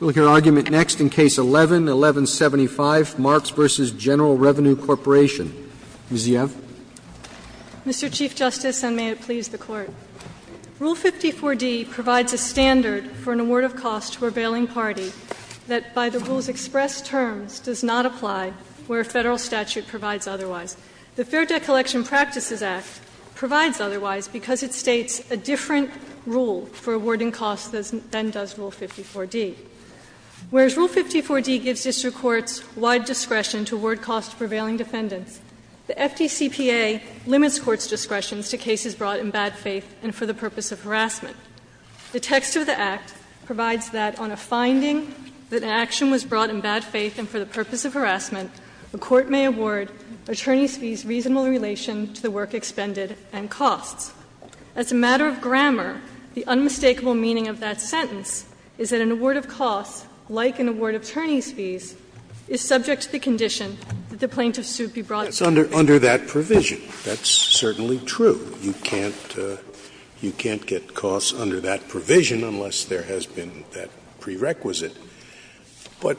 Ms. Yev. Mr. Chief Justice, and may it please the Court, Rule 54d provides a standard for an award of cost to a revealing party that, by the rule's expressed terms, does not apply where a Federal statute provides otherwise. The Fair Debt Collection Practices Act provides otherwise because it states a different rule for awarding costs than does Rule 54d. Whereas Rule 54d gives district courts wide discretion to award costs to prevailing defendants, the FDCPA limits courts' discretion to cases brought in bad faith and for the purpose of harassment. The text of the Act provides that on a finding that an action was brought in bad faith and for the purpose of harassment, the court may award attorneys fees reasonable relation to the work expended and costs. As a matter of grammar, the unmistakable meaning of that sentence is that an award of cost, like an award of attorneys fees, is subject to the condition that the plaintiff's suit be brought in bad faith. Scalia, under that provision. That's certainly true. You can't get costs under that provision unless there has been that prerequisite. But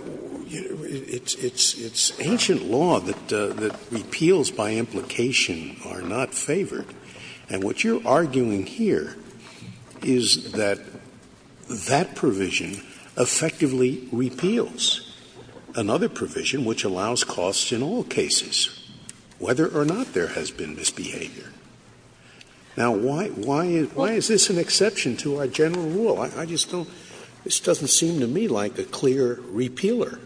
it's ancient law that repeals by implication are not favored, and what you're arguing here is that that provision effectively repeals another provision which allows costs in all cases, whether or not there has been misbehavior. Now, why is this an exception to our general rule? I just don't seem to me like a clear repealer.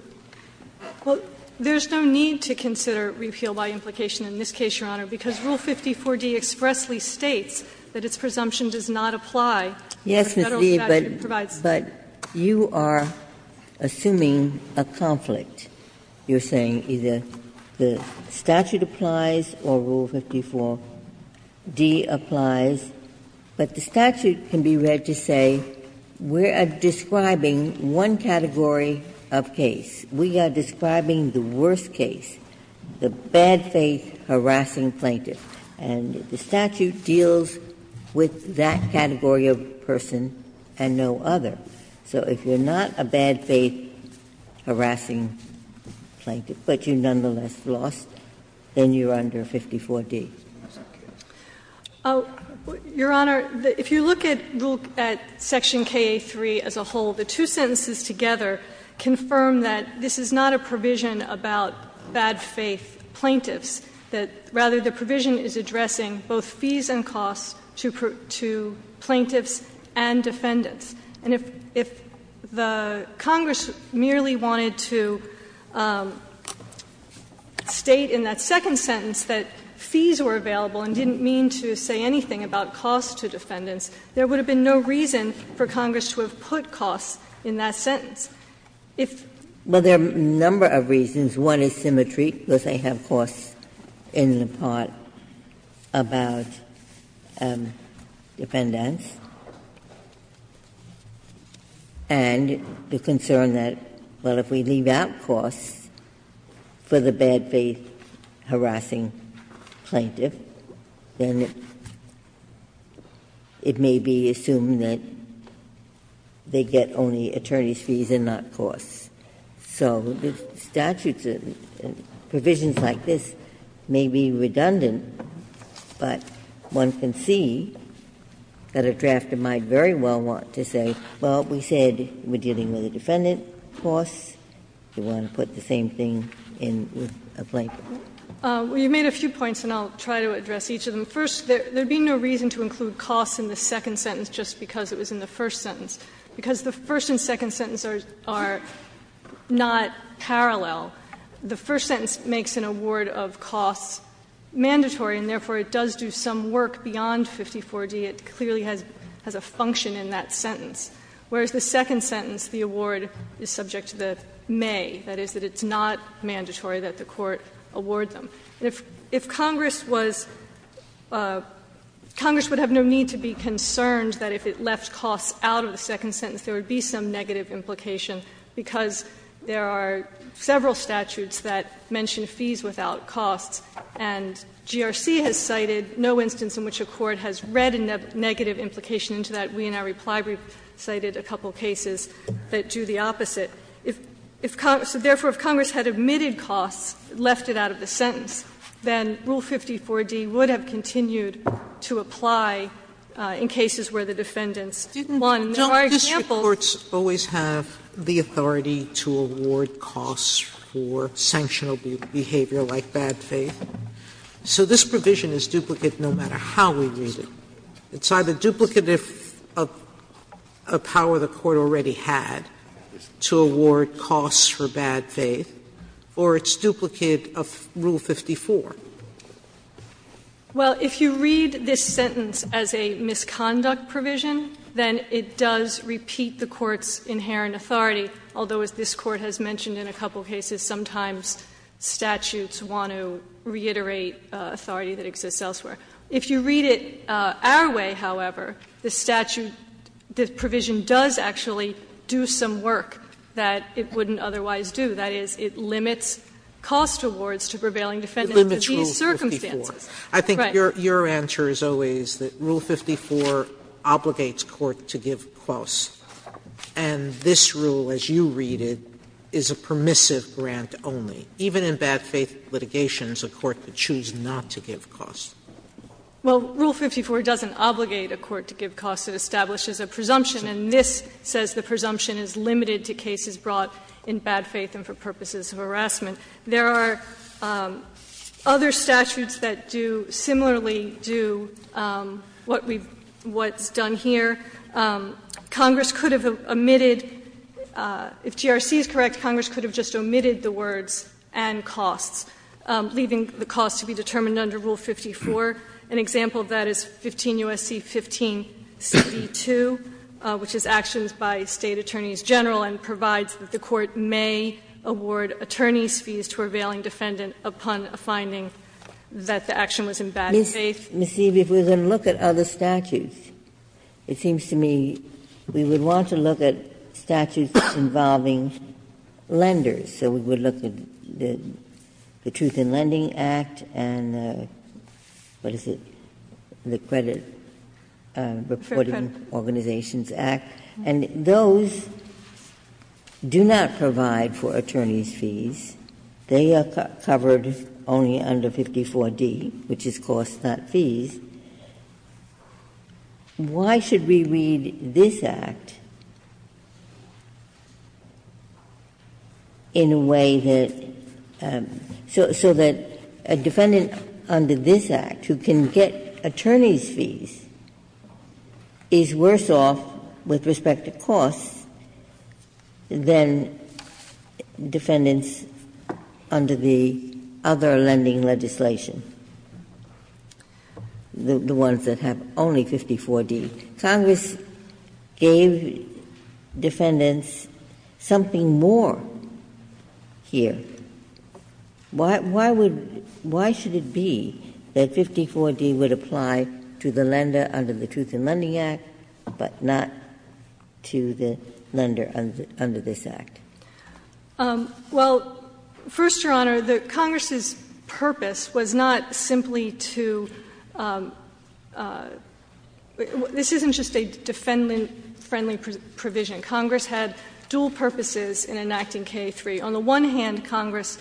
Well, there's no need to consider repeal by implication in this case, Your Honor, because Rule 54d expressly states that its presumption does not apply. Ginsburg. Yes, Ms. Lee, but you are assuming a conflict. You're saying either the statute applies or Rule 54d applies, but the statute can be read to say we are describing one category of case. We are describing the worst case, the bad faith harassing plaintiff, and the statute deals with that category of person and no other. So if you're not a bad faith harassing plaintiff, but you nonetheless lost, then you're under 54d. Your Honor, if you look at Section KA3 as a whole, the two sentences together confirm that this is not a provision about bad faith plaintiffs, that, rather, the provision is addressing both fees and costs to plaintiffs and defendants. And if the Congress merely wanted to state in that second sentence that fees were available and didn't mean to say anything about costs to defendants, there would have been no reason for Congress to have put costs in that sentence. If they're not. Ginsburg. Well, there are a number of reasons. One is symmetry, because they have costs in the part about defendants. And the concern that, well, if we leave out costs for the bad faith harassing plaintiff, then it may be assumed that they get only attorneys' fees and not costs. So the statutes and provisions like this may be redundant, but one can see that a drafter might very well want to say, well, we said we're dealing with a defendant's costs. Do you want to put the same thing in with a plaintiff? Well, you made a few points, and I'll try to address each of them. First, there would be no reason to include costs in the second sentence just because it was in the first sentence. Because the first and second sentences are not parallel. The first sentence makes an award of costs mandatory, and therefore it does do some work beyond 54d. It clearly has a function in that sentence. Whereas the second sentence, the award is subject to the may. That is, that it's not mandatory that the court award them. If Congress was ‑‑ Congress would have no need to be concerned that if it left costs out of the second sentence, there would be some negative implication, because there are several statutes that mention fees without costs, and GRC has cited no instance in which a court has read a negative implication into that. We, in our reply brief, cited a couple cases that do the opposite. If Congress ‑‑ so, therefore, if Congress had omitted costs, left it out of the sentence, then Rule 54d would have continued to apply in cases where the defendants won. There are examples ‑‑ Sotomayor, don't district courts always have the authority to award costs for sanctional behavior like bad faith? So this provision is duplicate no matter how we read it. Sotomayor, it's either duplicate of a power the court already had to award costs for bad faith, or it's duplicate of Rule 54. Well, if you read this sentence as a misconduct provision, then it does repeat the court's inherent authority, although, as this Court has mentioned in a couple cases, sometimes statutes want to reiterate authority that exists elsewhere. If you read it our way, however, the statute ‑‑ the provision does actually do some work that it wouldn't otherwise do. That is, it limits cost awards to prevailing defendants in these circumstances. Sotomayor, I think your answer is always that Rule 54 obligates court to give costs. And this rule, as you read it, is a permissive grant only. Even in bad faith litigations, a court could choose not to give costs. Well, Rule 54 doesn't obligate a court to give costs. It establishes a presumption, and this says the presumption is limited to cases brought in bad faith and for purposes of harassment. There are other statutes that do ‑‑ similarly do what we've ‑‑ what's done here. Congress could have omitted, if GRC is correct, Congress could have just omitted the words, and costs, leaving the costs to be determined under Rule 54. An example of that is 15 U.S.C. 15Cb2, which is actions by State Attorneys General and provides that the court may award attorney's fees to a prevailing defendant upon a finding that the action was in bad faith. Ms. Eby, if we're going to look at other statutes, it seems to me we would want to look at statutes involving lenders. So we would look at the Truth in Lending Act and the, what is it, the Credit Reporting Organizations Act, and those do not provide for attorney's fees. They are covered only under 54D, which is costs, not fees. Why should we read this Act in a way that ‑‑ so that a defendant under this Act who can get attorney's fees is worse off with respect to costs than defendants under the other lending legislation? The ones that have only 54D. Congress gave defendants something more here. Why would ‑‑ why should it be that 54D would apply to the lender under the Truth in Lending Act, but not to the lender under this Act? Well, first, Your Honor, the Congress's purpose was not simply to ‑‑ this isn't just a defendant‑friendly provision. Congress had dual purposes in enacting K3. On the one hand, Congress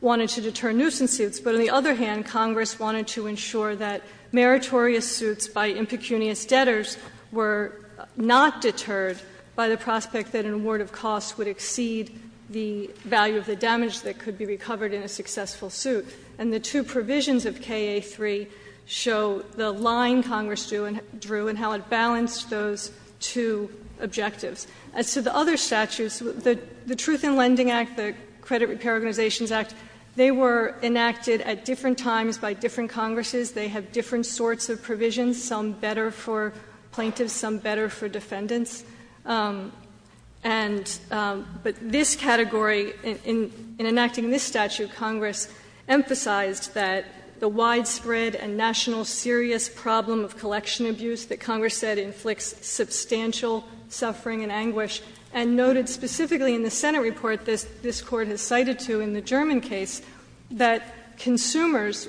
wanted to deter nuisance suits, but on the other hand, Congress wanted to ensure that meritorious suits by impecunious debtors were not deterred by the prospect that an award of costs would exceed the value of the damage that could be recovered in a successful suit. And the two provisions of KA3 show the line Congress drew and how it balanced those two objectives. As to the other statutes, the Truth in Lending Act, the Credit Repair Organizations Act, they were enacted at different times by different Congresses. They have different sorts of provisions, some better for plaintiffs, some better for defendants. And ‑‑ but this category, in enacting this statute, Congress emphasized that the widespread and national serious problem of collection abuse that Congress said inflicts substantial suffering and anguish, and noted specifically in the Senate report this Court has cited to in the German case, that consumers,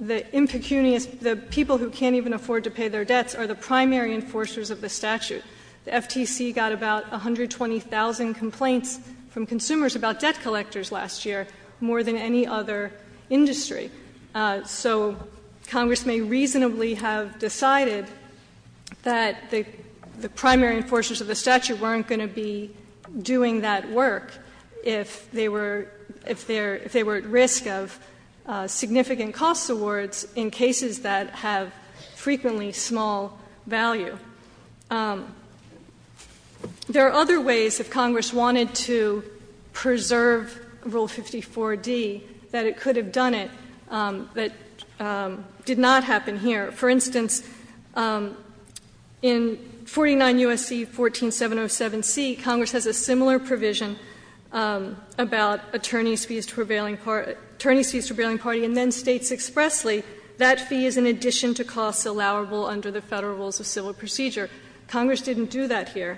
the impecunious ‑‑ the people who can't even afford to pay their debts are the primary enforcers of the statute. The FTC got about 120,000 complaints from consumers about debt collectors last year, more than any other industry. So Congress may reasonably have decided that the primary enforcers of the statute weren't going to be doing that work if they were ‑‑ if they were at risk of significant costs awards in cases that have frequently small value. There are other ways if Congress wanted to preserve Rule 54D that it could have done it that did not happen here. For instance, in 49 U.S.C. 14707C, Congress has a similar provision about attorneys' fees to prevailing ‑‑ attorneys' fees to prevailing party, and then states expressly that fee is in addition to costs allowable under the Federal Rules of Civil Procedure. Congress didn't do that here.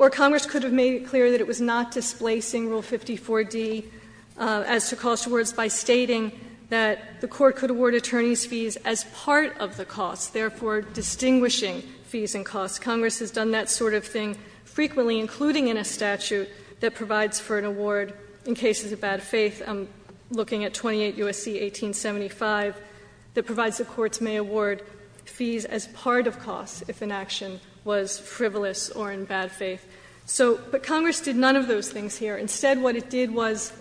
Or Congress could have made it clear that it was not displacing Rule 54D as to cost awards by stating that the court could award attorneys' fees as part of the costs, therefore distinguishing fees and costs. Congress has done that sort of thing frequently, including in a statute that provides for an award in cases of bad faith. I'm looking at 28 U.S.C. 1875 that provides the courts may award fees as part of costs if an action was frivolous or in bad faith. So ‑‑ but Congress did none of those things here. Instead, what it did was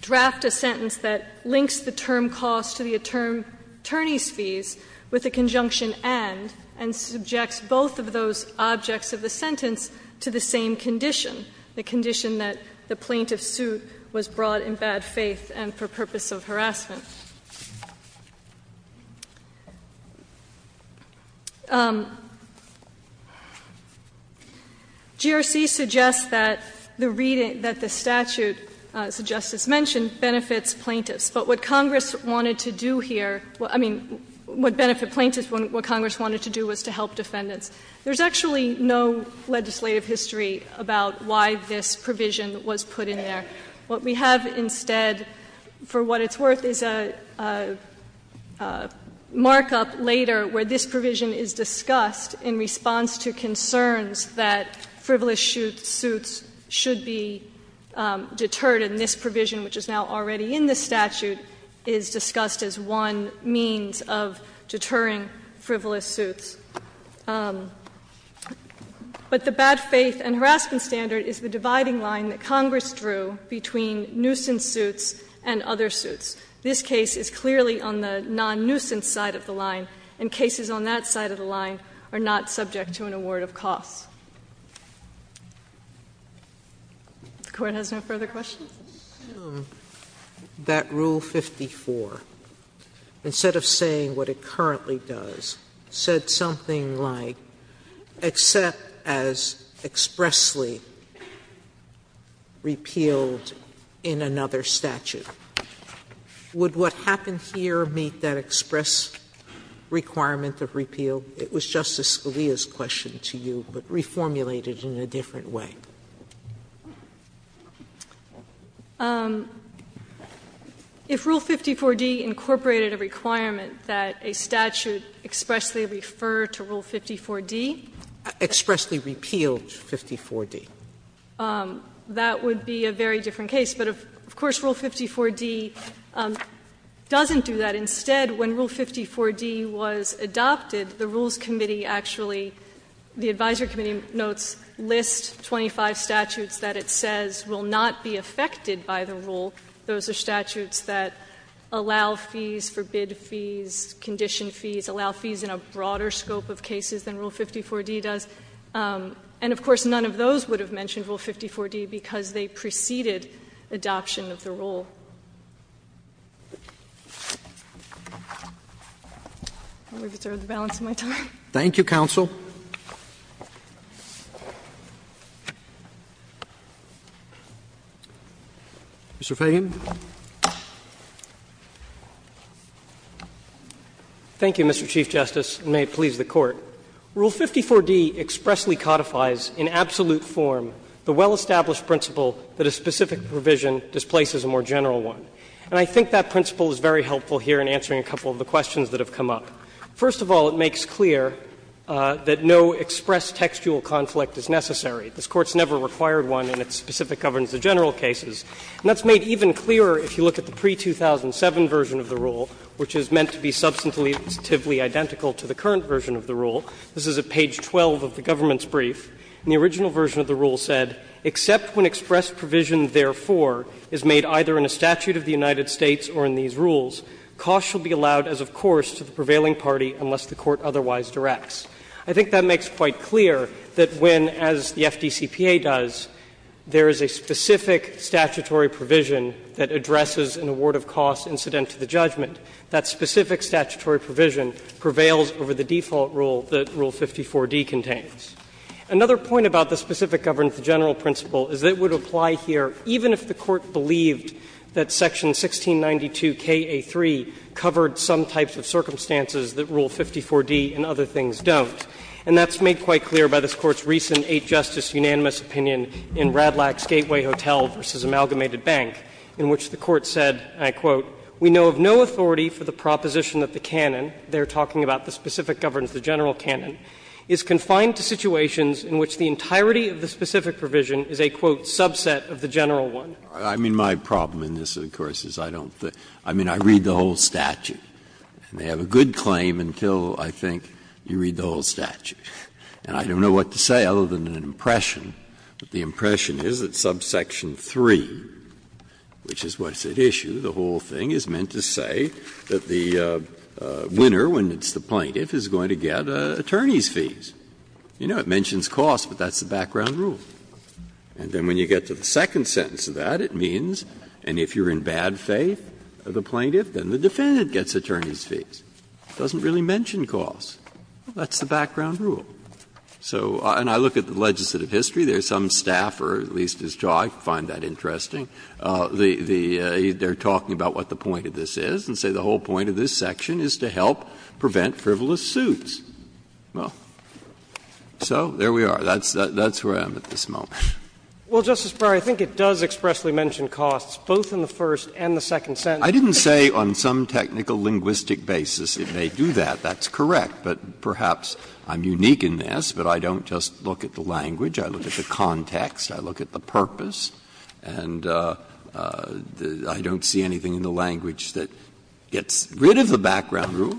draft a sentence that links the term cost to the attorneys' fees with the conjunction and, and subjects both of those objects of the sentence to the same condition, the condition that the plaintiff's suit was brought in bad faith and for purpose of harassment. GRC suggests that the reading ‑‑ that the statute, as the Justice mentioned, benefits plaintiffs. But what Congress wanted to do here ‑‑ I mean, what benefit plaintiffs, what Congress wanted to do was to help defendants. There's actually no legislative history about why this provision was put in there. What we have instead, for what it's worth, is a markup later where this provision is discussed in response to concerns that frivolous suits should be deterred. And this provision, which is now already in the statute, is discussed as one means of deterring frivolous suits. But the bad faith and harassment standard is the dividing line that Congress drew between nuisance suits and other suits. This case is clearly on the non‑nuisance side of the line, and cases on that side of the line are not subject to an award of costs. If the Court has no further questions. Sotomayor, I would assume that Rule 54, instead of saying what it currently does, said something like, except as expressly repealed in another statute. Would what happened here meet that express requirement of repeal? It was Justice Scalia's question to you, but reformulated in a different way. If Rule 54d incorporated a requirement that a statute expressly refer to Rule 54d. That would be a very different case, but, of course, Rule 54d doesn't do that. Instead, when Rule 54d was adopted, the Rules Committee actually, the advisory committee notes, lists 25 statutes that it says will not be affected by the rule. Those are statutes that allow fees, forbid fees, condition fees, allow fees in a broader scope of cases than Rule 54d does. And, of course, none of those would have mentioned Rule 54d because they preceded adoption of the rule. Roberts. Thank you, counsel. Mr. Feigin. Feigin. Thank you, Mr. Chief Justice, and may it please the Court. Rule 54d expressly codifies in absolute form the well-established principle that a specific provision displaces a more general one. And I think that principle is very helpful here in answering a couple of the questions that have come up. First of all, it makes clear that no express textual conflict is necessary. This Court's never required one in its specific governance of general cases. And that's made even clearer if you look at the pre-2007 version of the rule, which is meant to be substantively identical to the current version of the rule. This is at page 12 of the government's brief. And the original version of the rule said, ''Except when expressed provision, therefore, is made either in a statute of the United I think that makes quite clear that when, as the FDCPA does, there is a specific statutory provision that addresses an award of cost incident to the judgment, that specific statutory provision prevails over the default rule that Rule 54d contains. Another point about the specific governance of general principle is that it would apply here even if the Court believed that section 1692kA3 covered some types of circumstances that Rule 54d and other things don't. And that's made quite clear by this Court's recent Eight Justice unanimous opinion in Radlack's Gateway Hotel v. Amalgamated Bank, in which the Court said, and I quote, ''We know of no authority for the proposition that the canon'' they are talking about, the specific governance, the general canon, ''is confined to situations in which the entirety of the specific provision is a, quote, subset of the general one.'' Breyer, I mean, my problem in this, of course, is I don't think, I mean, I read the whole statute. And they have a good claim until, I think, you read the whole statute. And I don't know what to say other than an impression. But the impression is that subsection 3, which is what's at issue, the whole thing is meant to say that the winner, when it's the plaintiff, is going to get attorney's fees. You know, it mentions cost, but that's the background rule. And then when you get to the second sentence of that, it means, and if you're in bad faith of the plaintiff, then the defendant gets attorney's fees. It doesn't really mention cost. That's the background rule. So and I look at the legislative history. There's some staffer, at least as I find that interesting, the they're talking about what the point of this is and say the whole point of this section is to help prevent frivolous suits. Well, so there we are. That's where I am at this moment. Well, Justice Breyer, I think it does expressly mention costs, both in the first and the second sentence. I didn't say on some technical linguistic basis it may do that. That's correct. But perhaps I'm unique in this, but I don't just look at the language. I look at the context. I look at the purpose. And I don't see anything in the language that gets rid of the background rule,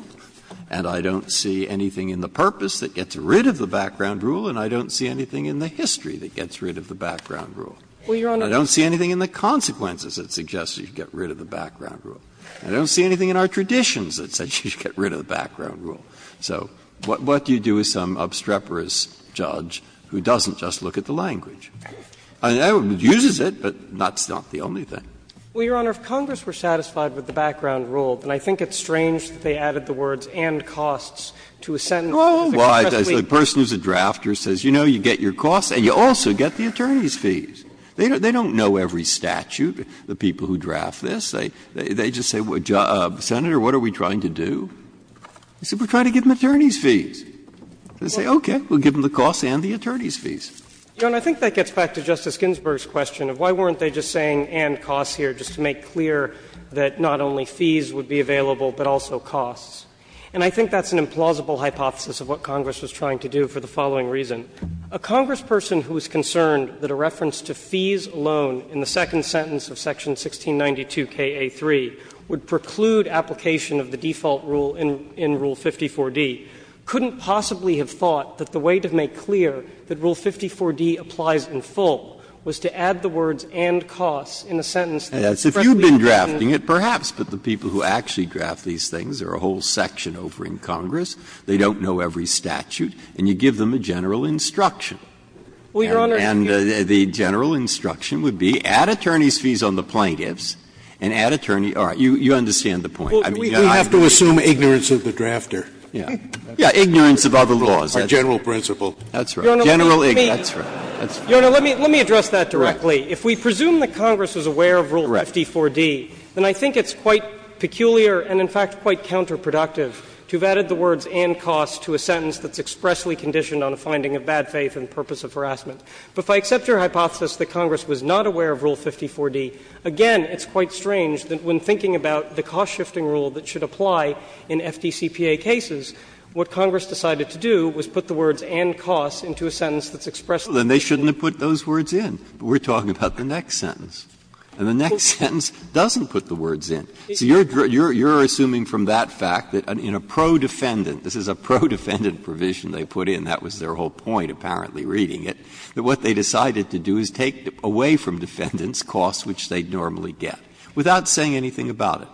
and I don't see anything in the purpose that gets rid of the background rule, and I don't see anything in the history that gets rid of the background rule. I don't see anything in the consequences that suggests you should get rid of the background rule. I don't see anything in our traditions that says you should get rid of the background rule. So what do you do with some obstreperous judge who doesn't just look at the language? I mean, it uses it, but that's not the only thing. Well, Your Honor, if Congress were satisfied with the background rule, then I think it's strange that they added the words and costs to a sentence that expressly The person who's a drafter says, you know, you get your costs and you also get the attorney's fees. They don't know every statute, the people who draft this. They just say, Senator, what are we trying to do? They say, we're trying to give them attorney's fees. They say, okay, we'll give them the costs and the attorney's fees. Your Honor, I think that gets back to Justice Ginsburg's question of why weren't they just saying and costs here, just to make clear that not only fees would be available, but also costs. And I think that's an implausible hypothesis of what Congress was trying to do for the following reason. A Congressperson who is concerned that a reference to fees alone in the second sentence of section 1692kA3 would preclude application of the default rule in Rule 54d couldn't possibly have thought that the way to make clear that Rule 54d applies in full was to add the words and costs in a sentence that expressly And that's if you've been drafting it, perhaps, but the people who actually draft these things are a whole section over in Congress. They don't know every statute. And you give them a general instruction. And the general instruction would be add attorney's fees on the plaintiffs and add attorney's fees on the plaintiffs. You understand the point. Scalia. We have to assume ignorance of the drafter. Breyer. Yeah, ignorance of other laws. Our general principle. That's right. General ignorance. Your Honor, let me address that directly. If we presume that Congress was aware of Rule 54d, then I think it's quite peculiar and in fact quite counterproductive to have added the words and costs to a sentence that's expressly conditioned on a finding of bad faith and purpose of harassment. But if I accept your hypothesis that Congress was not aware of Rule 54d, again, it's quite strange that when thinking about the cost-shifting rule that should apply in FDCPA cases, what Congress decided to do was put the words and costs into a sentence that's expressly conditioned. Breyer. Well, then they shouldn't have put those words in, but we're talking about the next sentence. And the next sentence doesn't put the words in. So you're assuming from that fact that in a pro-defendant, this is a pro-defendant provision they put in, that was their whole point, apparently, reading it, that what they decided to do is take away from defendants costs which they'd normally get, without saying anything about it.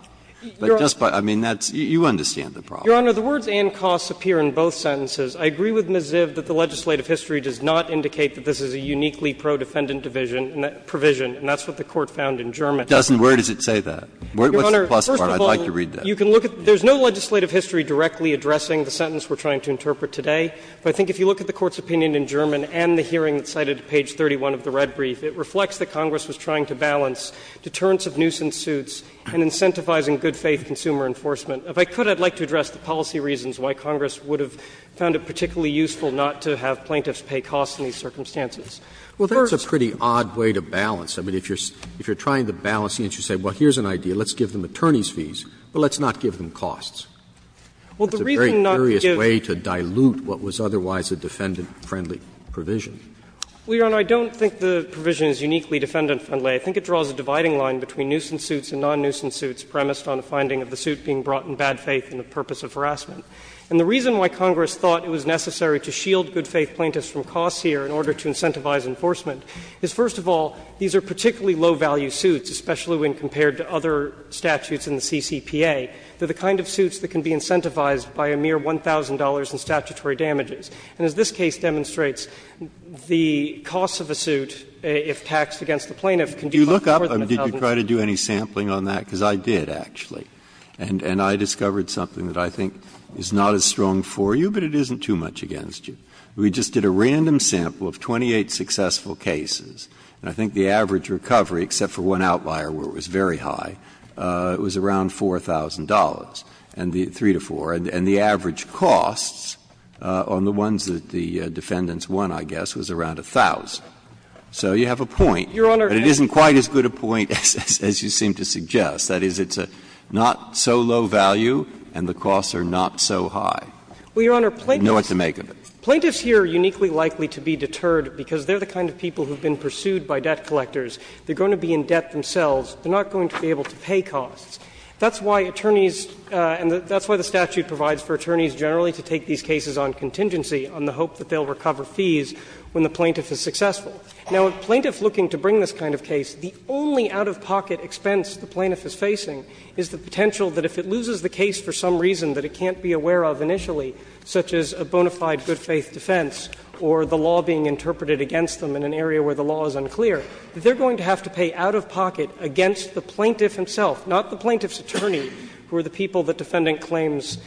I mean, that's you understand the problem. Your Honor, the words and costs appear in both sentences. I agree with Ms. Ziv that the legislative history does not indicate that this is a uniquely pro-defendant division, provision, and that's what the Court found in German. Breyer, where does it say that? What's the plus part? I'd like to read that. Your Honor, first of all, you can look at the legislative history directly addressing the sentence we're trying to interpret today. But I think if you look at the Court's opinion in German and the hearing that's cited at page 31 of the red brief, it reflects that Congress was trying to balance deterrence of nuisance suits and incentivizing good-faith consumer enforcement. If I could, I'd like to address the policy reasons why Congress would have found it particularly useful not to have plaintiffs pay costs in these circumstances. Well, that's a pretty odd way to balance. I mean, if you're trying to balance the interest, you say, well, here's an idea. Let's give them attorneys' fees, but let's not give them costs. That's a very curious way to dilute what was otherwise a defendant-friendly provision. Well, Your Honor, I don't think the provision is uniquely defendant-friendly. I think it draws a dividing line between nuisance suits and non-nuisance suits premised on the finding of the suit being brought in bad faith and the purpose of harassment. And the reason why Congress thought it was necessary to shield good-faith plaintiffs from costs here in order to incentivize enforcement is, first of all, these are particularly low-value suits, especially when compared to other statutes in the CCPA. They're the kind of suits that can be incentivized by a mere $1,000 in statutory damages. And as this case demonstrates, the costs of a suit, if taxed against the plaintiff, can be much more than $1,000. Breyer. Did you try to do any sampling on that? Because I did, actually. And I discovered something that I think is not as strong for you, but it isn't too much against you. We just did a random sample of 28 successful cases, and I think the average recovery, except for one outlier where it was very high, it was around $4,000, and the three to four. And the average costs on the ones that the defendants won, I guess, was around 1,000. So you have a point. But it isn't quite as good a point as you seem to suggest. That is, it's not so low value and the costs are not so high. You know what to make of it. Plaintiffs here are uniquely likely to be deterred because they are the kind of people who have been pursued by debt collectors. They are going to be in debt themselves. They are not going to be able to pay costs. That's why attorneys, and that's why the statute provides for attorneys generally to take these cases on contingency, on the hope that they will recover fees when the plaintiff is successful. Now, a plaintiff looking to bring this kind of case, the only out-of-pocket expense the plaintiff is facing is the potential that if it loses the case for some reason that it can't be aware of initially, such as a bona fide good-faith defense or the law being interpreted against them in an area where the law is unclear, that they are going to have to pay out-of-pocket against the plaintiff himself, not the plaintiff's attorney, who are the people that defendant claims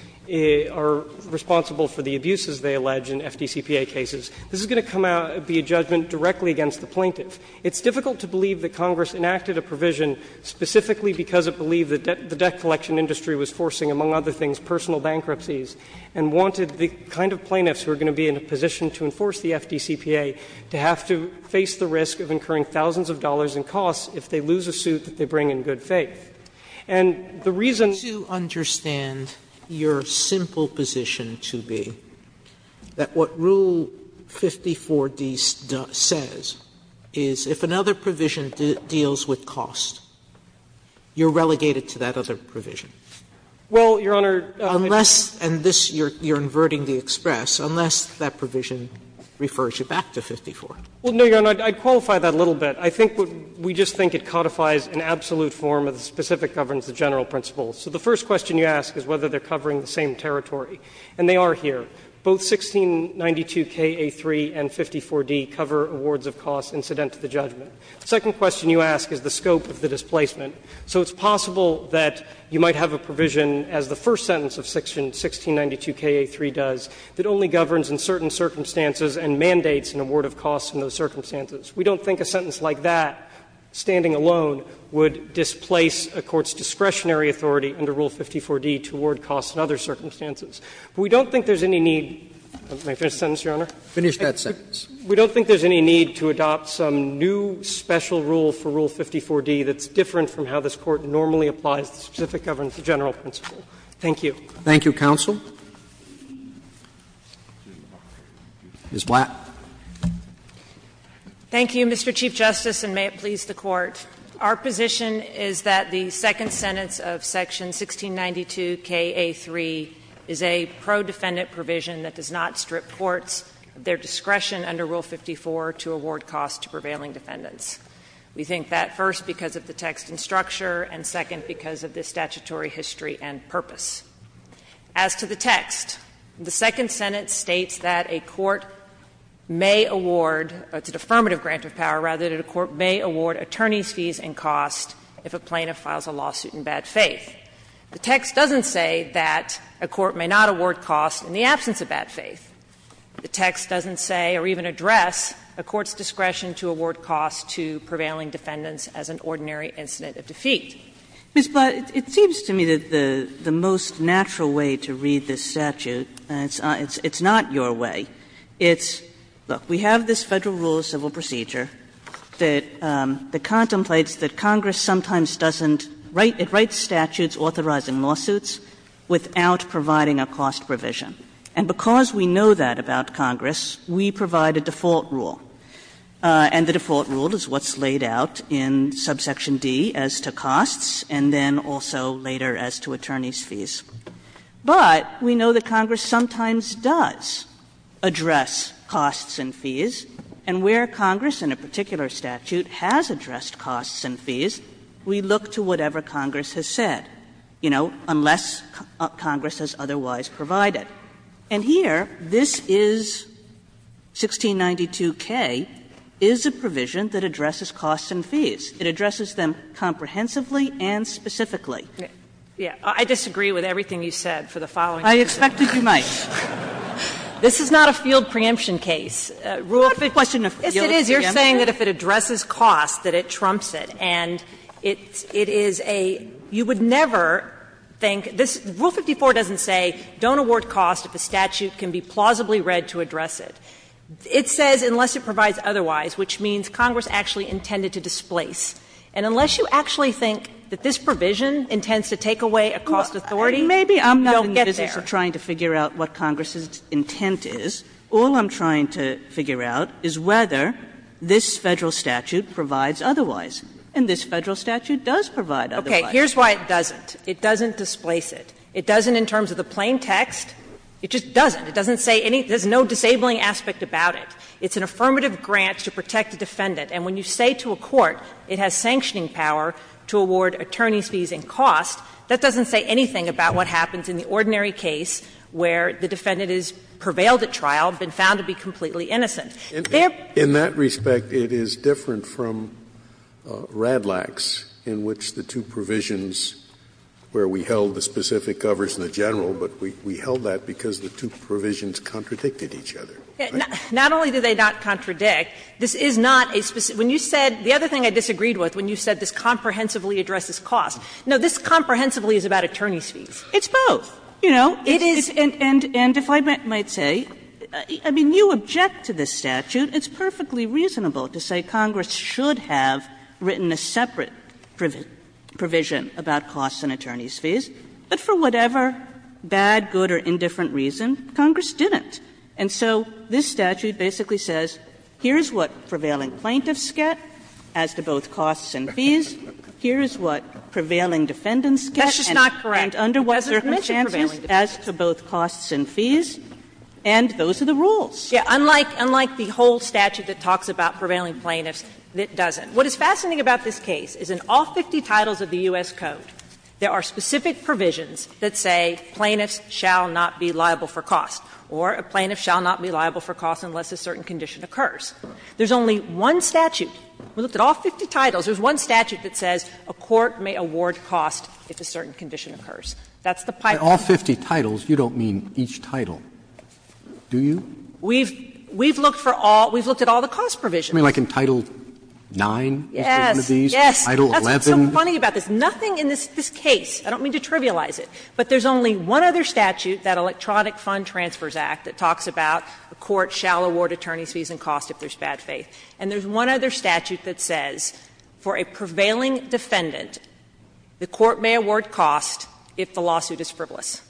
are responsible for the abuses they allege in FDCPA cases. This is going to come out, be a judgment directly against the plaintiff. It's difficult to believe that Congress enacted a provision specifically because it believed that the debt collection industry was forcing, among other things, personal bankruptcies, and wanted the kind of plaintiffs who are going to be in a position to enforce the FDCPA to have to face the risk of incurring thousands of dollars in costs if they lose a suit that they bring in good faith. And the reason to understand your simple position to be that what Rule 54d says is if another provision deals with cost, you are relegated to that other provision. Waxman, and this you are inverting the express, unless that provision refers you back to 54. Well, no, Your Honor, I would qualify that a little bit. I think we just think it codifies an absolute form of the specific governance of general principles. So the first question you ask is whether they are covering the same territory, and they are here. Both 1692kA3 and 54d cover awards of costs incident to the judgment. The second question you ask is the scope of the displacement. So it's possible that you might have a provision, as the first sentence of 1692kA3 does, that only governs in certain circumstances and mandates an award of costs in those circumstances. We don't think a sentence like that, standing alone, would displace a court's discretionary authority under Rule 54d to award costs in other circumstances. We don't think there's any need to adopt some new special rule for Rule 54d that's different from how this Court normally applies the specific governance of general principle. Thank you. Roberts, Thank you, counsel. Ms. Blatt. Blatt. Blatt. Thank you, Mr. Chief Justice, and may it please the Court. Our position is that the second sentence of section 1692kA3 is a pro-defendant provision that does not strip courts of their discretion under Rule 54 to award costs to prevailing defendants. We think that, first, because of the text and structure, and, second, because of the statutory history and purpose. As to the text, the second sentence states that a court may award, it's an affirmative grant of power, rather, that a court may award attorneys' fees and costs if a plaintiff files a lawsuit in bad faith. The text doesn't say that a court may not award costs in the absence of bad faith. The text doesn't say or even address a court's discretion to award costs to prevailing defendants as an ordinary incident of defeat. Ms. Blatt, it seems to me that the most natural way to read this statute, and it's not your way, it's, look, we have this Federal Rule of Civil Procedure that contemplates that Congress sometimes doesn't write statutes authorizing lawsuits without providing a cost provision. And because we know that about Congress, we provide a default rule, and the default rule is what's laid out in subsection D as to costs and then also later as to attorneys' fees. But we know that Congress sometimes does address costs and fees, and where Congress in a particular statute has addressed costs and fees, we look to whatever Congress has said, you know, unless Congress has otherwise provided. And here, this is 1692K, is a provision that addresses costs and fees. It addresses them comprehensively and specifically. Blatt, I disagree with everything you said for the following reasons. Sotomayor, I expected you might. Blatt, this is not a field preemption case. Rule 54 doesn't say don't award costs if a statute can be plausibly read to address it. It says unless it provides otherwise, which means Congress actually intended to displace. And unless you actually think that this provision intends to take away a cost authority, you don't get there. Kagan Maybe I'm not in the business of trying to figure out what Congress's intent is. All I'm trying to figure out is whether this Federal statute provides otherwise, and this Federal statute does provide otherwise. Blatt, here's why it doesn't. It doesn't displace it. It doesn't in terms of the plain text, it just doesn't. It doesn't say anything, there's no disabling aspect about it. It's an affirmative grant to protect the defendant. And when you say to a court it has sanctioning power to award attorney's fees and costs, that doesn't say anything about what happens in the ordinary case where the defendant has prevailed at trial, been found to be completely innocent. Scalia In that respect, it is different from Radlax, in which the two provisions where we held the specific covers in the general, but we held that because the two provisions contradicted each other. Kagan Not only do they not contradict, this is not a specific – when you said, the other thing I disagreed with when you said this comprehensively addresses costs, no, this comprehensively is about attorney's fees. Blatt It's both. You know, it is – and if I might say, I mean, you object to this statute. It's perfectly reasonable to say Congress should have written a separate provision about costs and attorney's fees, but for whatever bad, good or indifferent reason, Congress didn't. And so this statute basically says, here's what prevailing plaintiffs get as to both costs and fees, here's what prevailing defendants get and under what circumstances as to both costs and fees, and those are the rules. Sotomayor Yes, unlike the whole statute that talks about prevailing plaintiffs, it doesn't. What is fascinating about this case is in all 50 titles of the U.S. Code, there are specific provisions that say plaintiffs shall not be liable for costs, or a plaintiff shall not be liable for costs unless a certain condition occurs. There's only one statute, we looked at all 50 titles, there's one statute that says a court may award costs if a certain condition occurs. That's the pipeline. Roberts By all 50 titles, you don't mean each title, do you? Sotomayor We've looked for all – we've looked at all the cost provisions. I mean, like in Title IX, one of these, Title XI. Sotomayor It's funny about this. Nothing in this case, I don't mean to trivialize it, but there's only one other statute, that Electronic Fund Transfers Act, that talks about a court shall award attorneys' fees and costs if there's bad faith. And there's one other statute that says for a prevailing defendant, the court may award costs if the lawsuit is frivolous.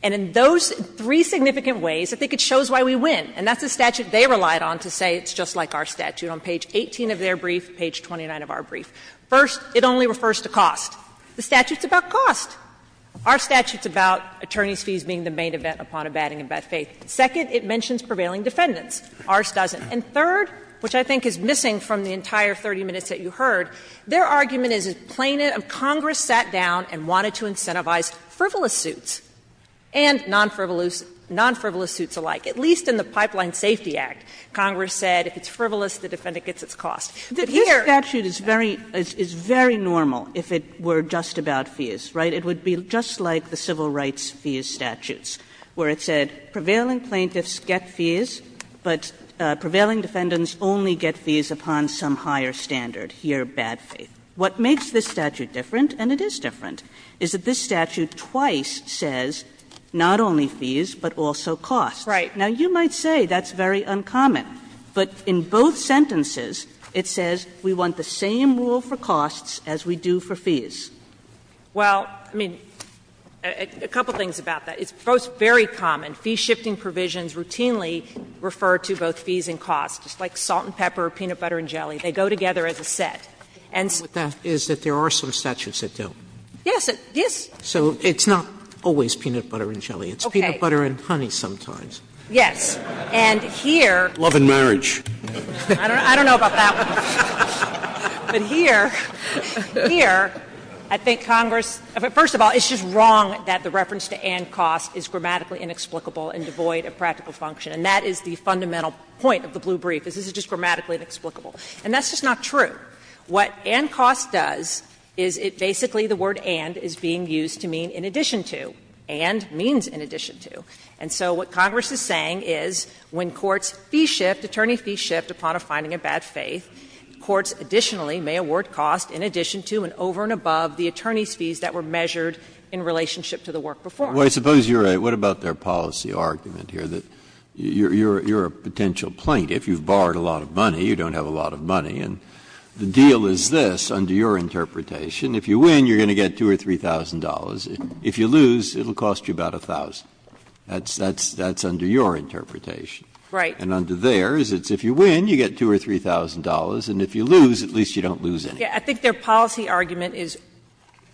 And in those three significant ways, I think it shows why we win, and that's the statute they relied on to say it's just like our statute on page 18 of their brief, page 29 of our brief. First, it only refers to cost. The statute's about cost. Our statute's about attorneys' fees being the main event upon abetting and by faith. Second, it mentions prevailing defendants. Ours doesn't. And third, which I think is missing from the entire 30 minutes that you heard, their argument is as plain as Congress sat down and wanted to incentivize frivolous suits and non-frivolous suits alike, at least in the Pipeline Safety Act. Congress said if it's frivolous, the defendant gets its cost. But here – Kagan is very – is very normal if it were just about fees, right? It would be just like the civil rights fees statutes where it said prevailing plaintiffs get fees, but prevailing defendants only get fees upon some higher standard, here bad faith. What makes this statute different, and it is different, is that this statute twice says not only fees, but also cost. Now, you might say that's very uncommon, but in both sentences it says we want the same rule for costs as we do for fees. Well, I mean, a couple things about that. It's both very common. Fee-shifting provisions routinely refer to both fees and costs, just like salt and pepper, peanut butter and jelly. They go together as a set. And so the problem with that is that there are some statutes that don't. Yes. Yes. So it's not always peanut butter and jelly. Okay. It's peanut butter and honey sometimes. Yes. And here. Love and marriage. I don't know about that one. But here, here, I think Congress – first of all, it's just wrong that the reference to and cost is grammatically inexplicable and devoid of practical function. And that is the fundamental point of the blue brief, is this is just grammatically inexplicable. And that's just not true. What and cost does is it basically the word and is being used to mean in addition to, and means in addition to. And so what Congress is saying is when courts fee shift, attorney fee shift upon a finding of bad faith, courts additionally may award cost in addition to and over and above the attorney's fees that were measured in relationship to the work performed. Well, I suppose you're right. What about their policy argument here, that you're a potential plaintiff, you've borrowed a lot of money, you don't have a lot of money, and the deal is this, under your interpretation, if you win, you're going to get $2,000 or $3,000. If you lose, it will cost you about $1,000. That's under your interpretation. Right. And under theirs, it's if you win, you get $2,000 or $3,000, and if you lose, at least you don't lose anything. Yeah. I think their policy argument is,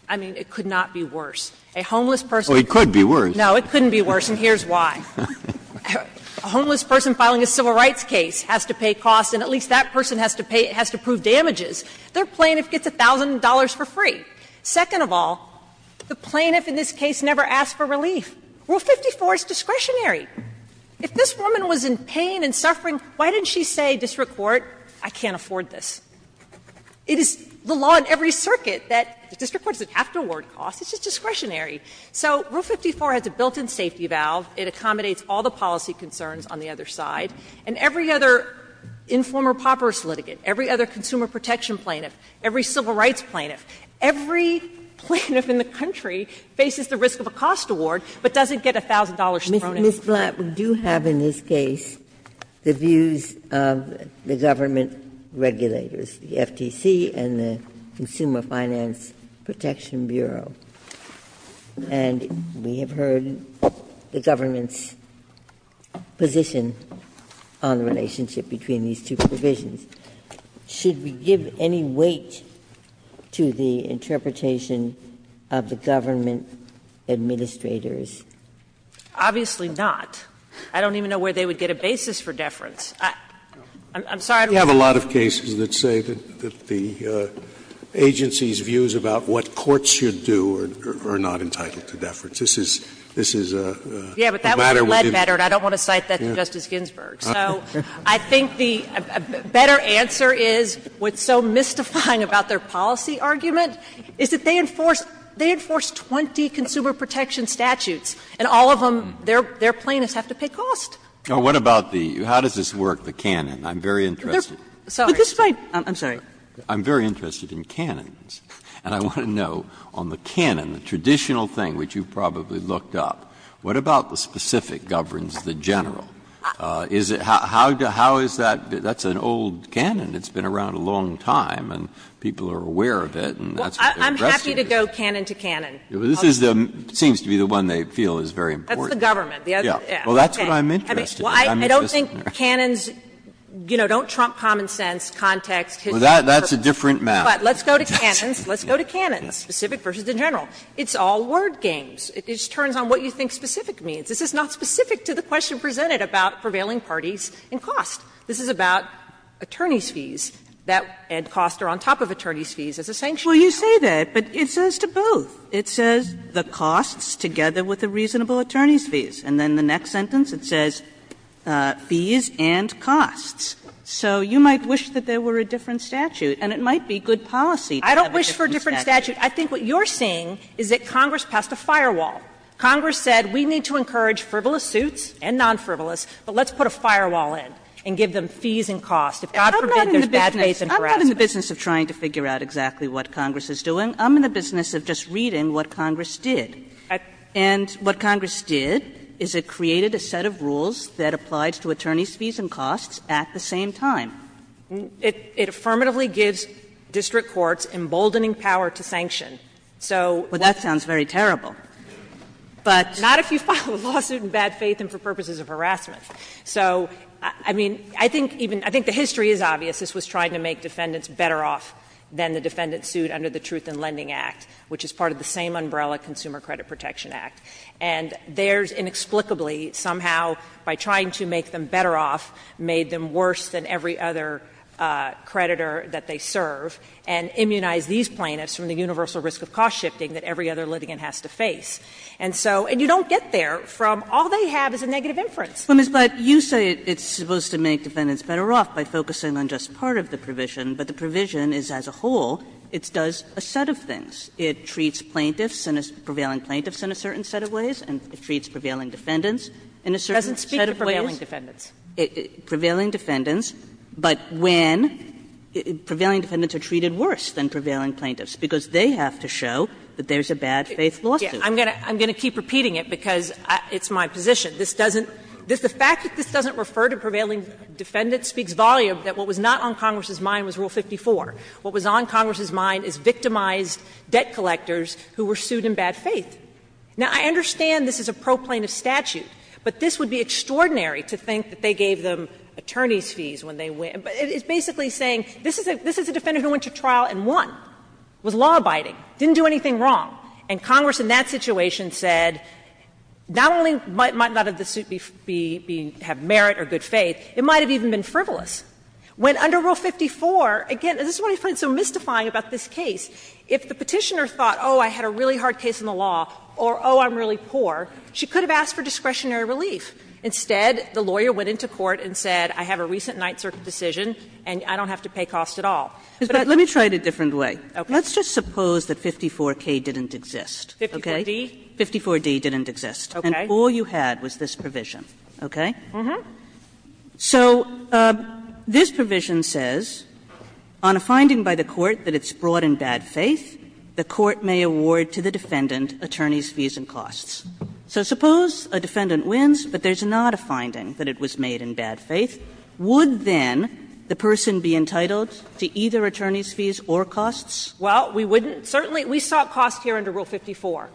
I mean, it could not be worse. A homeless person. Oh, it could be worse. No, it couldn't be worse, and here's why. A homeless person filing a civil rights case has to pay costs, and at least that person has to pay, has to prove damages. Their plaintiff gets $1,000 for free. Second of all, the plaintiff in this case never asked for relief. Rule 54 is discretionary. If this woman was in pain and suffering, why didn't she say, district court, I can't afford this? It is the law in every circuit that the district court doesn't have to award costs, it's just discretionary. So Rule 54 has a built-in safety valve. It accommodates all the policy concerns on the other side. And every other informer paupers litigant, every other consumer protection plaintiff, every civil rights plaintiff, every plaintiff in the country faces the risk of a cost award, but doesn't get $1,000 thrown in. Ginsburg. Ms. Blatt, we do have in this case the views of the government regulators, the FTC and the Consumer Finance Protection Bureau, and we have heard the government's position on the relationship between these two provisions. Should we give any weight to the interpretation of the government administrators? Obviously not. I don't even know where they would get a basis for deference. I'm sorry. Scalia. We have a lot of cases that say that the agency's views about what courts should do are not entitled to deference. This is a matter within the court system. Yeah, but that would have led better, and I don't want to cite that to Justice Ginsburg. So I think the better answer is, what's so mystifying about their policy argument is that they enforce 20 consumer protection statutes, and all of them, their plaintiffs have to pay cost. Now, what about the — how does this work, the canon? I'm very interested. Sorry. I'm sorry. I'm very interested in canons, and I want to know, on the canon, the traditional thing, which you probably looked up, what about the specific governs the general? Is it — how is that — that's an old canon that's been around a long time, and people are aware of it, and that's what they're addressing. Well, I'm happy to go canon to canon. This is the — seems to be the one they feel is very important. That's the government. Yeah. Well, that's what I'm interested in. I'm interested in that. I don't think canons, you know, don't trump common sense, context, history. Well, that's a different matter. But let's go to canons. Let's go to canons, specific versus the general. It's all word games. It just turns on what you think specific means. This is not specific to the question presented about prevailing parties and cost. This is about attorneys' fees, that Ed costs are on top of attorneys' fees as a sanction. Well, you say that, but it says to both. It says the costs together with the reasonable attorneys' fees. And then the next sentence, it says fees and costs. So you might wish that there were a different statute, and it might be good policy to have a different statute. I don't wish for a different statute. I think what you're saying is that Congress passed a firewall. Congress said we need to encourage frivolous suits and non-frivolous, but let's put a firewall in. And give them fees and costs. If God forbid there's bad faith and harassment. Kagan I'm not in the business of trying to figure out exactly what Congress is doing. I'm in the business of just reading what Congress did. And what Congress did is it created a set of rules that applied to attorneys' fees and costs at the same time. It affirmatively gives district courts emboldening power to sanction. So what we're saying is that if you have a lawsuit and bad faith and for purposes of harassment. So, I mean, I think even, I think the history is obvious. This was trying to make defendants better off than the defendant sued under the Truth in Lending Act, which is part of the same umbrella Consumer Credit Protection Act. And theirs inexplicably somehow, by trying to make them better off, made them worse than every other creditor that they serve, and immunized these plaintiffs from the universal risk of cost shifting that every other litigant has to face. And so, and you don't get there from all they have is a negative inference. Kagan, but you say it's supposed to make defendants better off by focusing on just part of the provision, but the provision is as a whole, it does a set of things. It treats plaintiffs, prevailing plaintiffs, in a certain set of ways, and it treats prevailing defendants in a certain set of ways. Sotomayor, It doesn't speak to prevailing defendants. Kagan, prevailing defendants, but when prevailing defendants are treated worse than prevailing plaintiffs, because they have to show that there's a bad faith lawsuit. Sotomayor, I'm going to keep repeating it because it's my position. This doesn't, the fact that this doesn't refer to prevailing defendants speaks volume that what was not on Congress's mind was Rule 54. What was on Congress's mind is victimized debt collectors who were sued in bad faith. Now, I understand this is a pro-plaintiff statute, but this would be extraordinary to think that they gave them attorney's fees when they went, but it's basically saying this is a defendant who went to trial and won, was law-abiding, didn't do anything wrong, and Congress, in that situation, said not only might not the suit have merit or good faith, it might have even been frivolous. When under Rule 54, again, this is what I find so mystifying about this case, if the Petitioner thought, oh, I had a really hard case in the law, or, oh, I'm really poor, she could have asked for discretionary relief. Instead, the lawyer went into court and said, I have a recent Ninth Circuit decision But I don't have to pay cost at all. Sotomayor, But let me try it a different way. Kagan, Okay. Let's just suppose that 54K didn't exist, okay? Kagan, 54D? Kagan, 54D didn't exist, and all you had was this provision, okay? So this provision says, on a finding by the court that it's brought in bad faith, the court may award to the defendant attorney's fees and costs. So suppose a defendant wins, but there's not a finding that it was made in bad faith. Would then the person be entitled to either attorney's fees or costs? Well, we wouldn't, certainly, we sought costs here under Rule 54.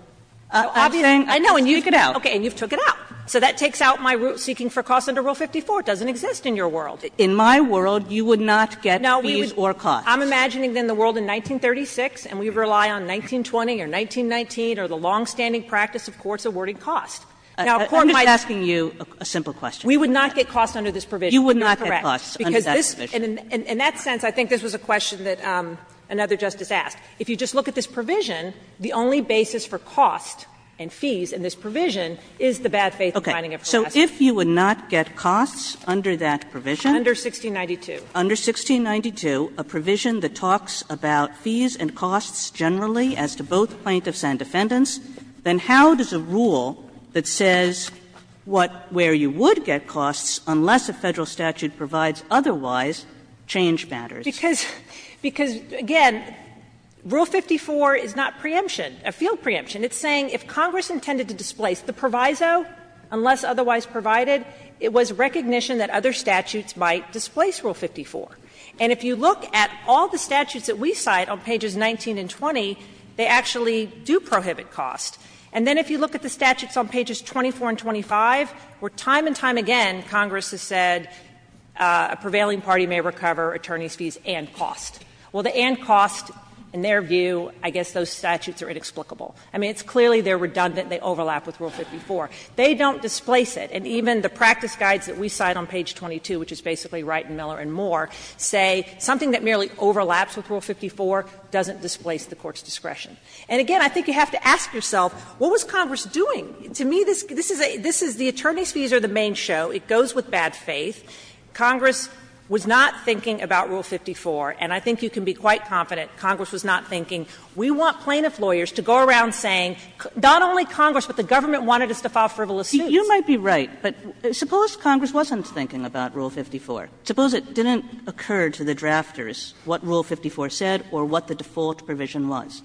Kagan, I'm saying, I can speak it out. Kagan, Okay, and you've took it out. So that takes out my seeking for costs under Rule 54. It doesn't exist in your world. Kagan, In my world, you would not get fees or costs. Kagan, No, I'm imagining then the world in 1936, and we rely on 1920 or 1919 or the longstanding practice of courts awarding costs. Now, a court might Kagan, I'm just asking you a simple question. Kagan, We would not get costs under this provision. Kagan, You would not get costs under that provision. Kagan, Because this, in that sense, I think this was a question that another Justice asked. If you just look at this provision, the only basis for costs and fees in this provision is the bad faith finding of her last name. Kagan, Okay. So if you would not get costs under that provision? Kagan, Under 1692. Kagan, Under 1692, a provision that talks about fees and costs generally as to both plaintiffs and defendants, then how does a rule that says what, where you would get costs unless a Federal statute provides otherwise change matters? Kagan, Because, because, again, Rule 54 is not preemption, a field preemption. It's saying if Congress intended to displace the proviso, unless otherwise provided, it was recognition that other statutes might displace Rule 54. And if you look at all the statutes that we cite on pages 19 and 20, they actually do prohibit costs. And then if you look at the statutes on pages 24 and 25, where time and time again Congress has said a prevailing party may recover attorneys' fees and costs. Well, the and costs, in their view, I guess those statutes are inexplicable. I mean, it's clearly they're redundant, they overlap with Rule 54. They don't displace it. And even the practice guides that we cite on page 22, which is basically Wright and Miller and Moore, say something that merely overlaps with Rule 54 doesn't displace the Court's discretion. And again, I think you have to ask yourself, what was Congress doing? To me, this is a the attorneys' fees are the main show. It goes with bad faith. Congress was not thinking about Rule 54. And I think you can be quite confident Congress was not thinking, we want plaintiff lawyers to go around saying not only Congress, but the government wanted us to file frivolous suits. Kagan, You might be right, but suppose Congress wasn't thinking about Rule 54. Suppose it didn't occur to the drafters what Rule 54 said or what the default provision was.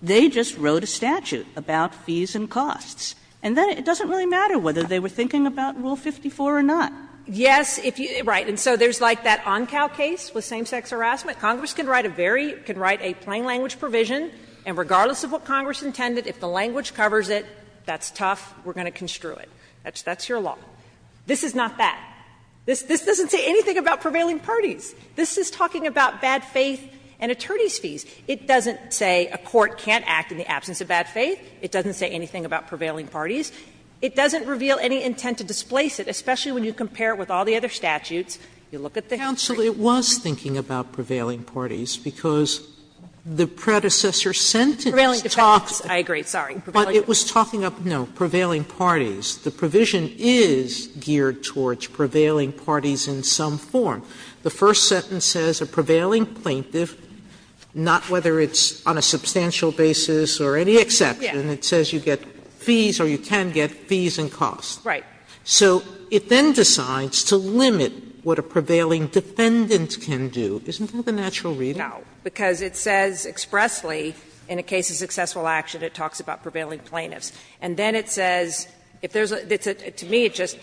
They just wrote a statute about fees and costs. And then it doesn't really matter whether they were thinking about Rule 54 or not. Yes, if you – right. And so there's like that Oncal case with same-sex harassment. Congress can write a very – can write a plain language provision, and regardless of what Congress intended, if the language covers it, that's tough, we're going to construe it. That's your law. This is not that. This is talking about bad faith and attorneys' fees. It doesn't say a court can't act in the absence of bad faith. It doesn't say anything about prevailing parties. It doesn't reveal any intent to displace it, especially when you compare it with all the other statutes. You look at the history. Sotomayor, it was thinking about prevailing parties, because the predecessor sentence talked about prevailing parties. Kagan, I agree. Sorry. Sotomayor, but it was talking about prevailing parties. The provision is geared towards prevailing parties in some form. The first sentence says a prevailing plaintiff, not whether it's on a substantial basis or any exception. It says you get fees or you can get fees and costs. Right. So it then decides to limit what a prevailing defendant can do. Isn't that the natural reading? No, because it says expressly in a case of successful action it talks about prevailing plaintiffs. And then it says if there's a – to me it's just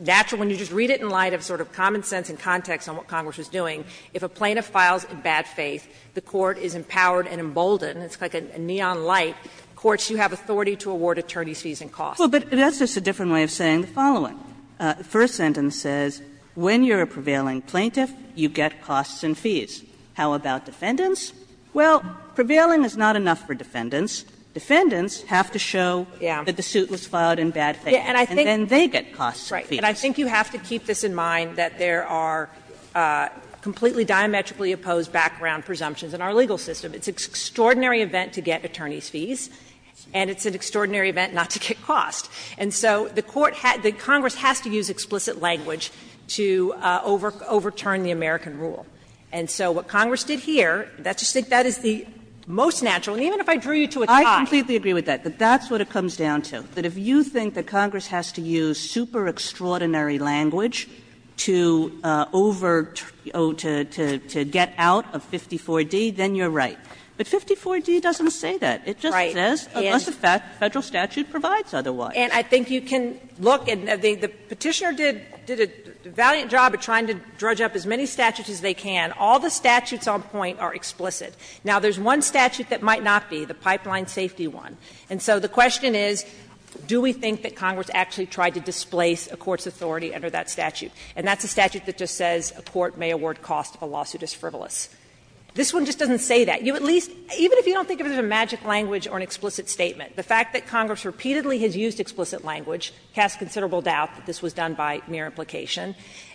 natural when you just read it in light of sort of common sense and context on what Congress was doing, if a plaintiff files in bad faith, the court is empowered and emboldened, it's like a neon light, courts, you have authority to award attorneys fees and costs. Well, but that's just a different way of saying the following. The first sentence says when you're a prevailing plaintiff, you get costs and fees. How about defendants? Well, prevailing is not enough for defendants. Defendants have to show that the suit was filed in bad faith. And then they get costs and fees. Right. And I think you have to keep this in mind, that there are completely diametrically opposed background presumptions in our legal system. It's an extraordinary event to get attorneys fees, and it's an extraordinary event not to get costs. And so the court – the Congress has to use explicit language to overturn the American rule. And so what Congress did here, I just think that is the most natural, and even if I drew you to a tie. I completely agree with that, that that's what it comes down to, that if you think that Congress has to use super-extraordinary language to over – to get out of 54D, then you're right. But 54D doesn't say that. It just says, unless a Federal statute provides otherwise. And I think you can look, and the Petitioner did a valiant job of trying to drudge up as many statutes as they can. All the statutes on point are explicit. Now, there's one statute that might not be, the pipeline safety one. And so the question is, do we think that Congress actually tried to displace a court's authority under that statute? And that's a statute that just says a court may award cost if a lawsuit is frivolous. This one just doesn't say that. You at least – even if you don't think of it as a magic language or an explicit statement, the fact that Congress repeatedly has used explicit language casts considerable doubt that this was done by mere implication.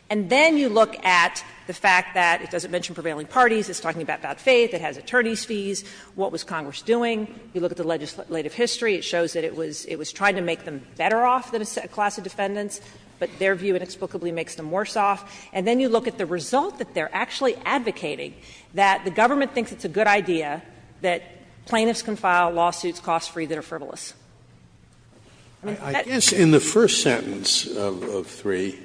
And then you look at the fact that it doesn't mention prevailing parties, it's talking about bad faith, it has attorneys fees, what was Congress doing? You look at the legislative history, it shows that it was trying to make them better off than a class of defendants, but their view inexplicably makes them worse off. And then you look at the result that they're actually advocating, that the government thinks it's a good idea that plaintiffs can file lawsuits cost free that are frivolous. I mean, that's the reason. Scalia, I guess in the first sentence of 3,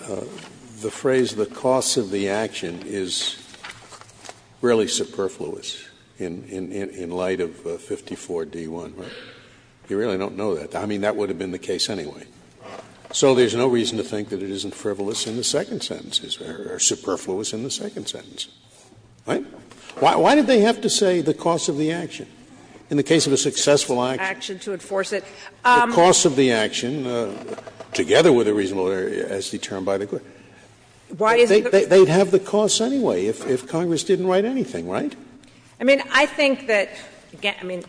the phrase the cost of the action is really superfluous in light of 54d-1. You really don't know that. I mean, that would have been the case anyway. So there's no reason to think that it isn't frivolous in the second sentence or superfluous in the second sentence, right? Why did they have to say the cost of the action in the case of a successful action? The cost of the action, together with a reasonable error, as determined by the court. They'd have the cost anyway if Congress didn't write anything. Right? I mean, I think that, again, I mean.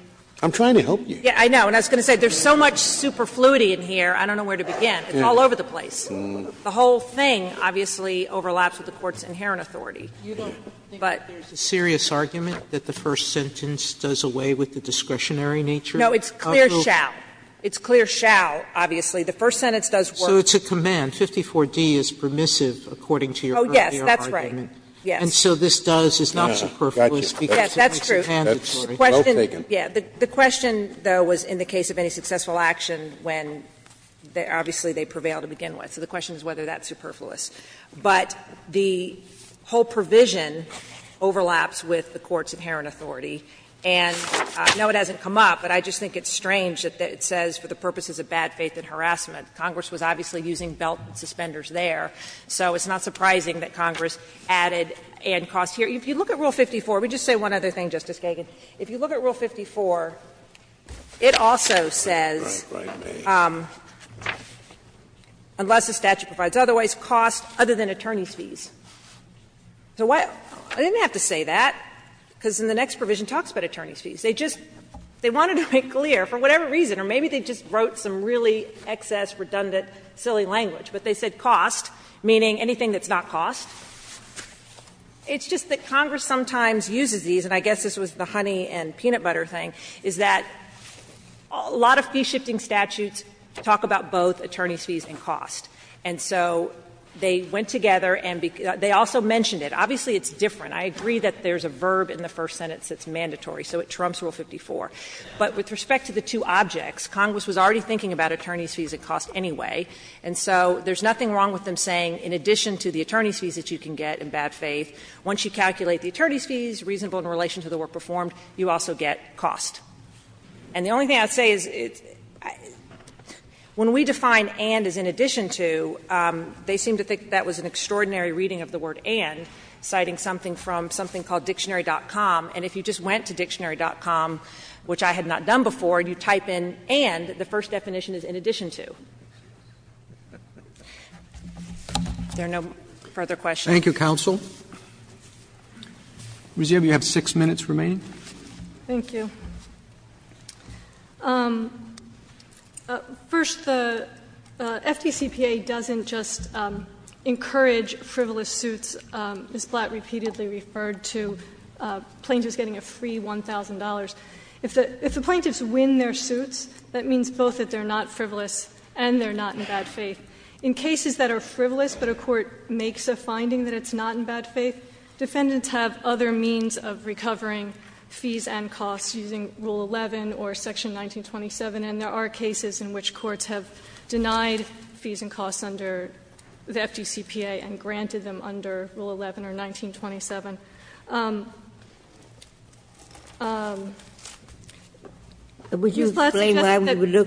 I'm trying to help you. Yeah, I know, and I was going to say, there's so much superfluity in here, I don't know where to begin. It's all over the place. The whole thing, obviously, overlaps with the Court's inherent authority. But. Sotomayor's argument that the first sentence does away with the discretionary nature? No, it's clear shall. It's clear shall, obviously. The first sentence does work. So it's a command. 54d is permissive according to your earlier argument. Oh, yes, that's right. Yes. So this does, it's not superfluous because it makes a command that's well taken. Yeah, the question, though, was in the case of any successful action when, obviously, they prevail to begin with. So the question is whether that's superfluous. But the whole provision overlaps with the Court's inherent authority. And no, it hasn't come up, but I just think it's strange that it says, for the purposes of bad faith and harassment. Congress was obviously using belt suspenders there. So it's not surprising that Congress added and cost here. If you look at Rule 54, let me just say one other thing, Justice Kagan. If you look at Rule 54, it also says, unless the statute provides otherwise, cost other than attorney's fees. So why? I didn't have to say that, because in the next provision it talks about attorney's fees. They just, they wanted to make clear, for whatever reason, or maybe they just wrote some really excess, redundant, silly language. But they said cost, meaning anything that's not cost. It's just that Congress sometimes uses these, and I guess this was the honey and peanut butter thing, is that a lot of fee-shifting statutes talk about both attorney's fees and cost. And so they went together and they also mentioned it. Obviously, it's different. I agree that there's a verb in the first sentence that's mandatory, so it trumps Rule 54. But with respect to the two objects, Congress was already thinking about attorney's fees and cost anyway. And so there's nothing wrong with them saying, in addition to the attorney's fees that you can get in bad faith, once you calculate the attorney's fees, reasonable in relation to the work performed, you also get cost. And the only thing I would say is, when we define and as in addition to, they seem to think that was an extraordinary reading of the word and, citing something from something called Dictionary.com. And if you just went to Dictionary.com, which I had not done before, you type in and, the first definition is in addition to. There are no further questions. Thank you, counsel. Ms. Yebb, you have six minutes remaining. Thank you. First, the FDCPA doesn't just encourage frivolous suits. Ms. Blatt repeatedly referred to plaintiffs getting a free $1,000. If the plaintiffs win their suits, that means both that they're not frivolous and they're not in bad faith. In cases that are frivolous, but a court makes a finding that it's not in bad faith, defendants have other means of recovering fees and costs using Rule 11 or Section 1927. And there are cases in which courts have denied fees and costs under the FDCPA and granted them under Rule 11 or 1927. Ms. Blatt suggested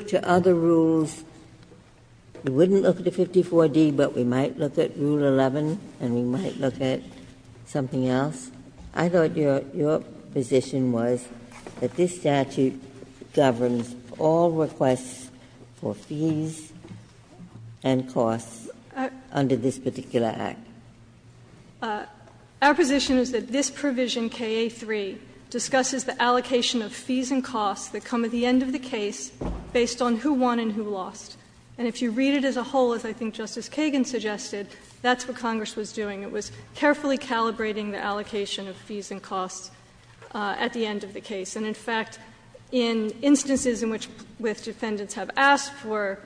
that the statute governs all requests for fees and costs under this particular Act. Our position is that this provision, K.A. 3, discusses the allocation of fees and costs that come at the end of the case based on who won and who lost. And if you read it as a whole, as I think Justice Kagan suggested, that's what Congress was doing. It was carefully calibrating the allocation of fees and costs at the end of the case. And in fact, in instances in which defendants have asked for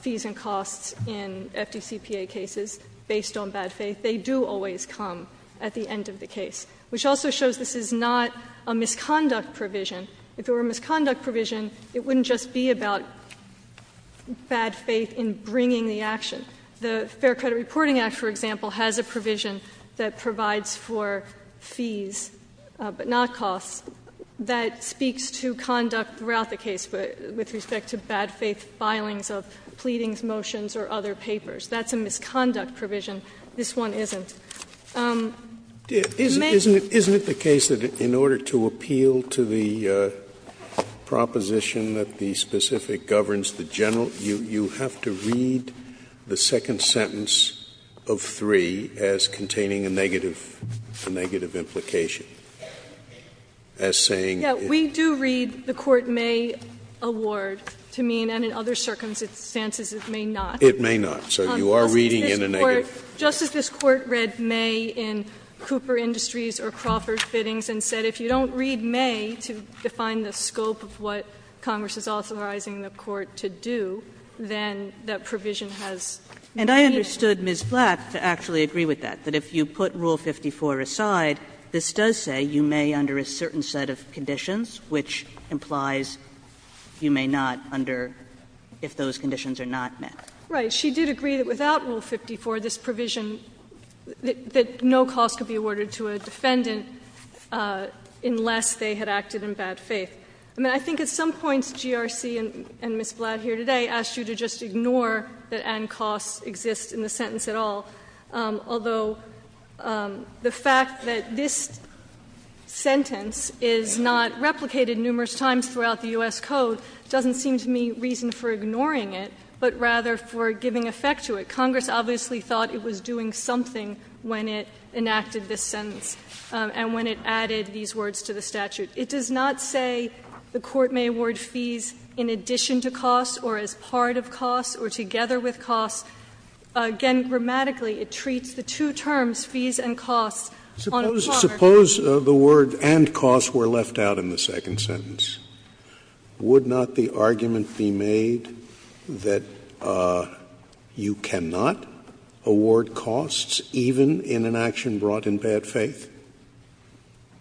fees and costs in FDCPA cases based on bad faith, they do always come at the end of the case, which also shows this is not a misconduct provision. If it were a misconduct provision, it wouldn't just be about bad faith in bringing the action. The Fair Credit Reporting Act, for example, has a provision that provides for fees, but not costs, that speaks to conduct throughout the case with respect to bad faith filings of pleadings, motions or other papers. That's a misconduct provision. This one isn't. It may be. Scalia, Isn't it the case that in order to appeal to the proposition that the specific governs the general, you have to read the second sentence of 3 as containing a negative implication, as saying it? Yeah. We do read the court may award to mean, and in other circumstances it may not. It may not. So you are reading in a negative. Justice, this court read may in Cooper Industries or Crawford Fittings and said if you don't read may to define the scope of what Congress is authorizing the court to do, then that provision has no meaning. And I understood Ms. Black to actually agree with that, that if you put Rule 54 aside, this does say you may under a certain set of conditions, which implies you may not under if those conditions are not met. Right. But she did agree that without Rule 54, this provision, that no cost could be awarded to a defendant unless they had acted in bad faith. I mean, I think at some points GRC and Ms. Blatt here today asked you to just ignore that and costs exist in the sentence at all, although the fact that this sentence is not replicated numerous times throughout the U.S. Code doesn't seem to me reason for ignoring it, but rather for giving effect to it. Congress obviously thought it was doing something when it enacted this sentence and when it added these words to the statute. It does not say the court may award fees in addition to costs or as part of costs or together with costs. Again, grammatically, it treats the two terms, fees and costs, on a platter. Scalia, suppose the word and costs were left out in the second sentence. Would not the argument be made that you cannot award costs even in an action brought in bad faith?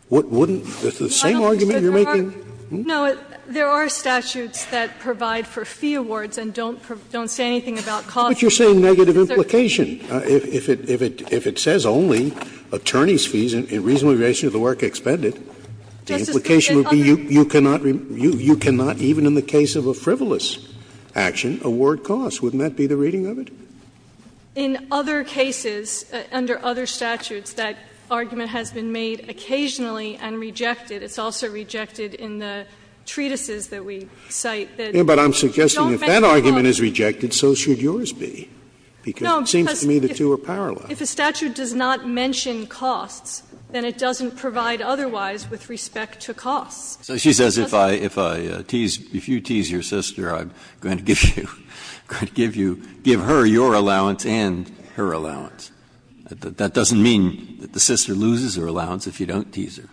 Wouldn't the same argument you're making? No. There are statutes that provide for fee awards and don't say anything about costs. But you're saying negative implication. If it says only attorneys' fees in reasonable relation to the work expended, the implication would be you cannot even in the case of a frivolous action award costs. Wouldn't that be the reading of it? In other cases, under other statutes, that argument has been made occasionally and rejected. It's also rejected in the treatises that we cite that don't mention costs. But I'm suggesting if that argument is rejected, so should yours be, because it seems to me the two are parallel. If a statute does not mention costs, then it doesn't provide otherwise with respect to costs. Breyer, so she says if I, if I tease, if you tease your sister, I'm going to give you, going to give you, give her your allowance and her allowance. That doesn't mean that the sister loses her allowance if you don't tease her.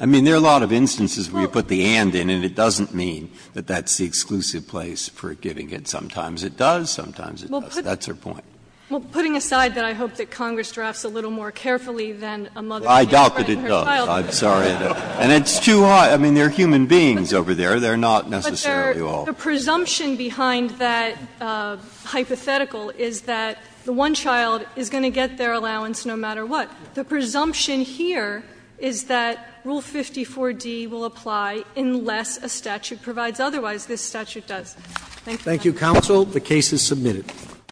I mean, there are a lot of instances where you put the and in and it doesn't mean that that's the exclusive place for giving it. Sometimes it does, sometimes it doesn't. That's her point. Well, putting aside that I hope that Congress drafts a little more carefully than a mother. I doubt that it does. I'm sorry. And it's too high. I mean, they're human beings over there. They're not necessarily all. But the presumption behind that hypothetical is that the one child is going to get their allowance no matter what. The presumption here is that Rule 54d will apply unless a statute provides otherwise. This statute does. Thank you, Your Honor. Thank you, counsel. The case is submitted.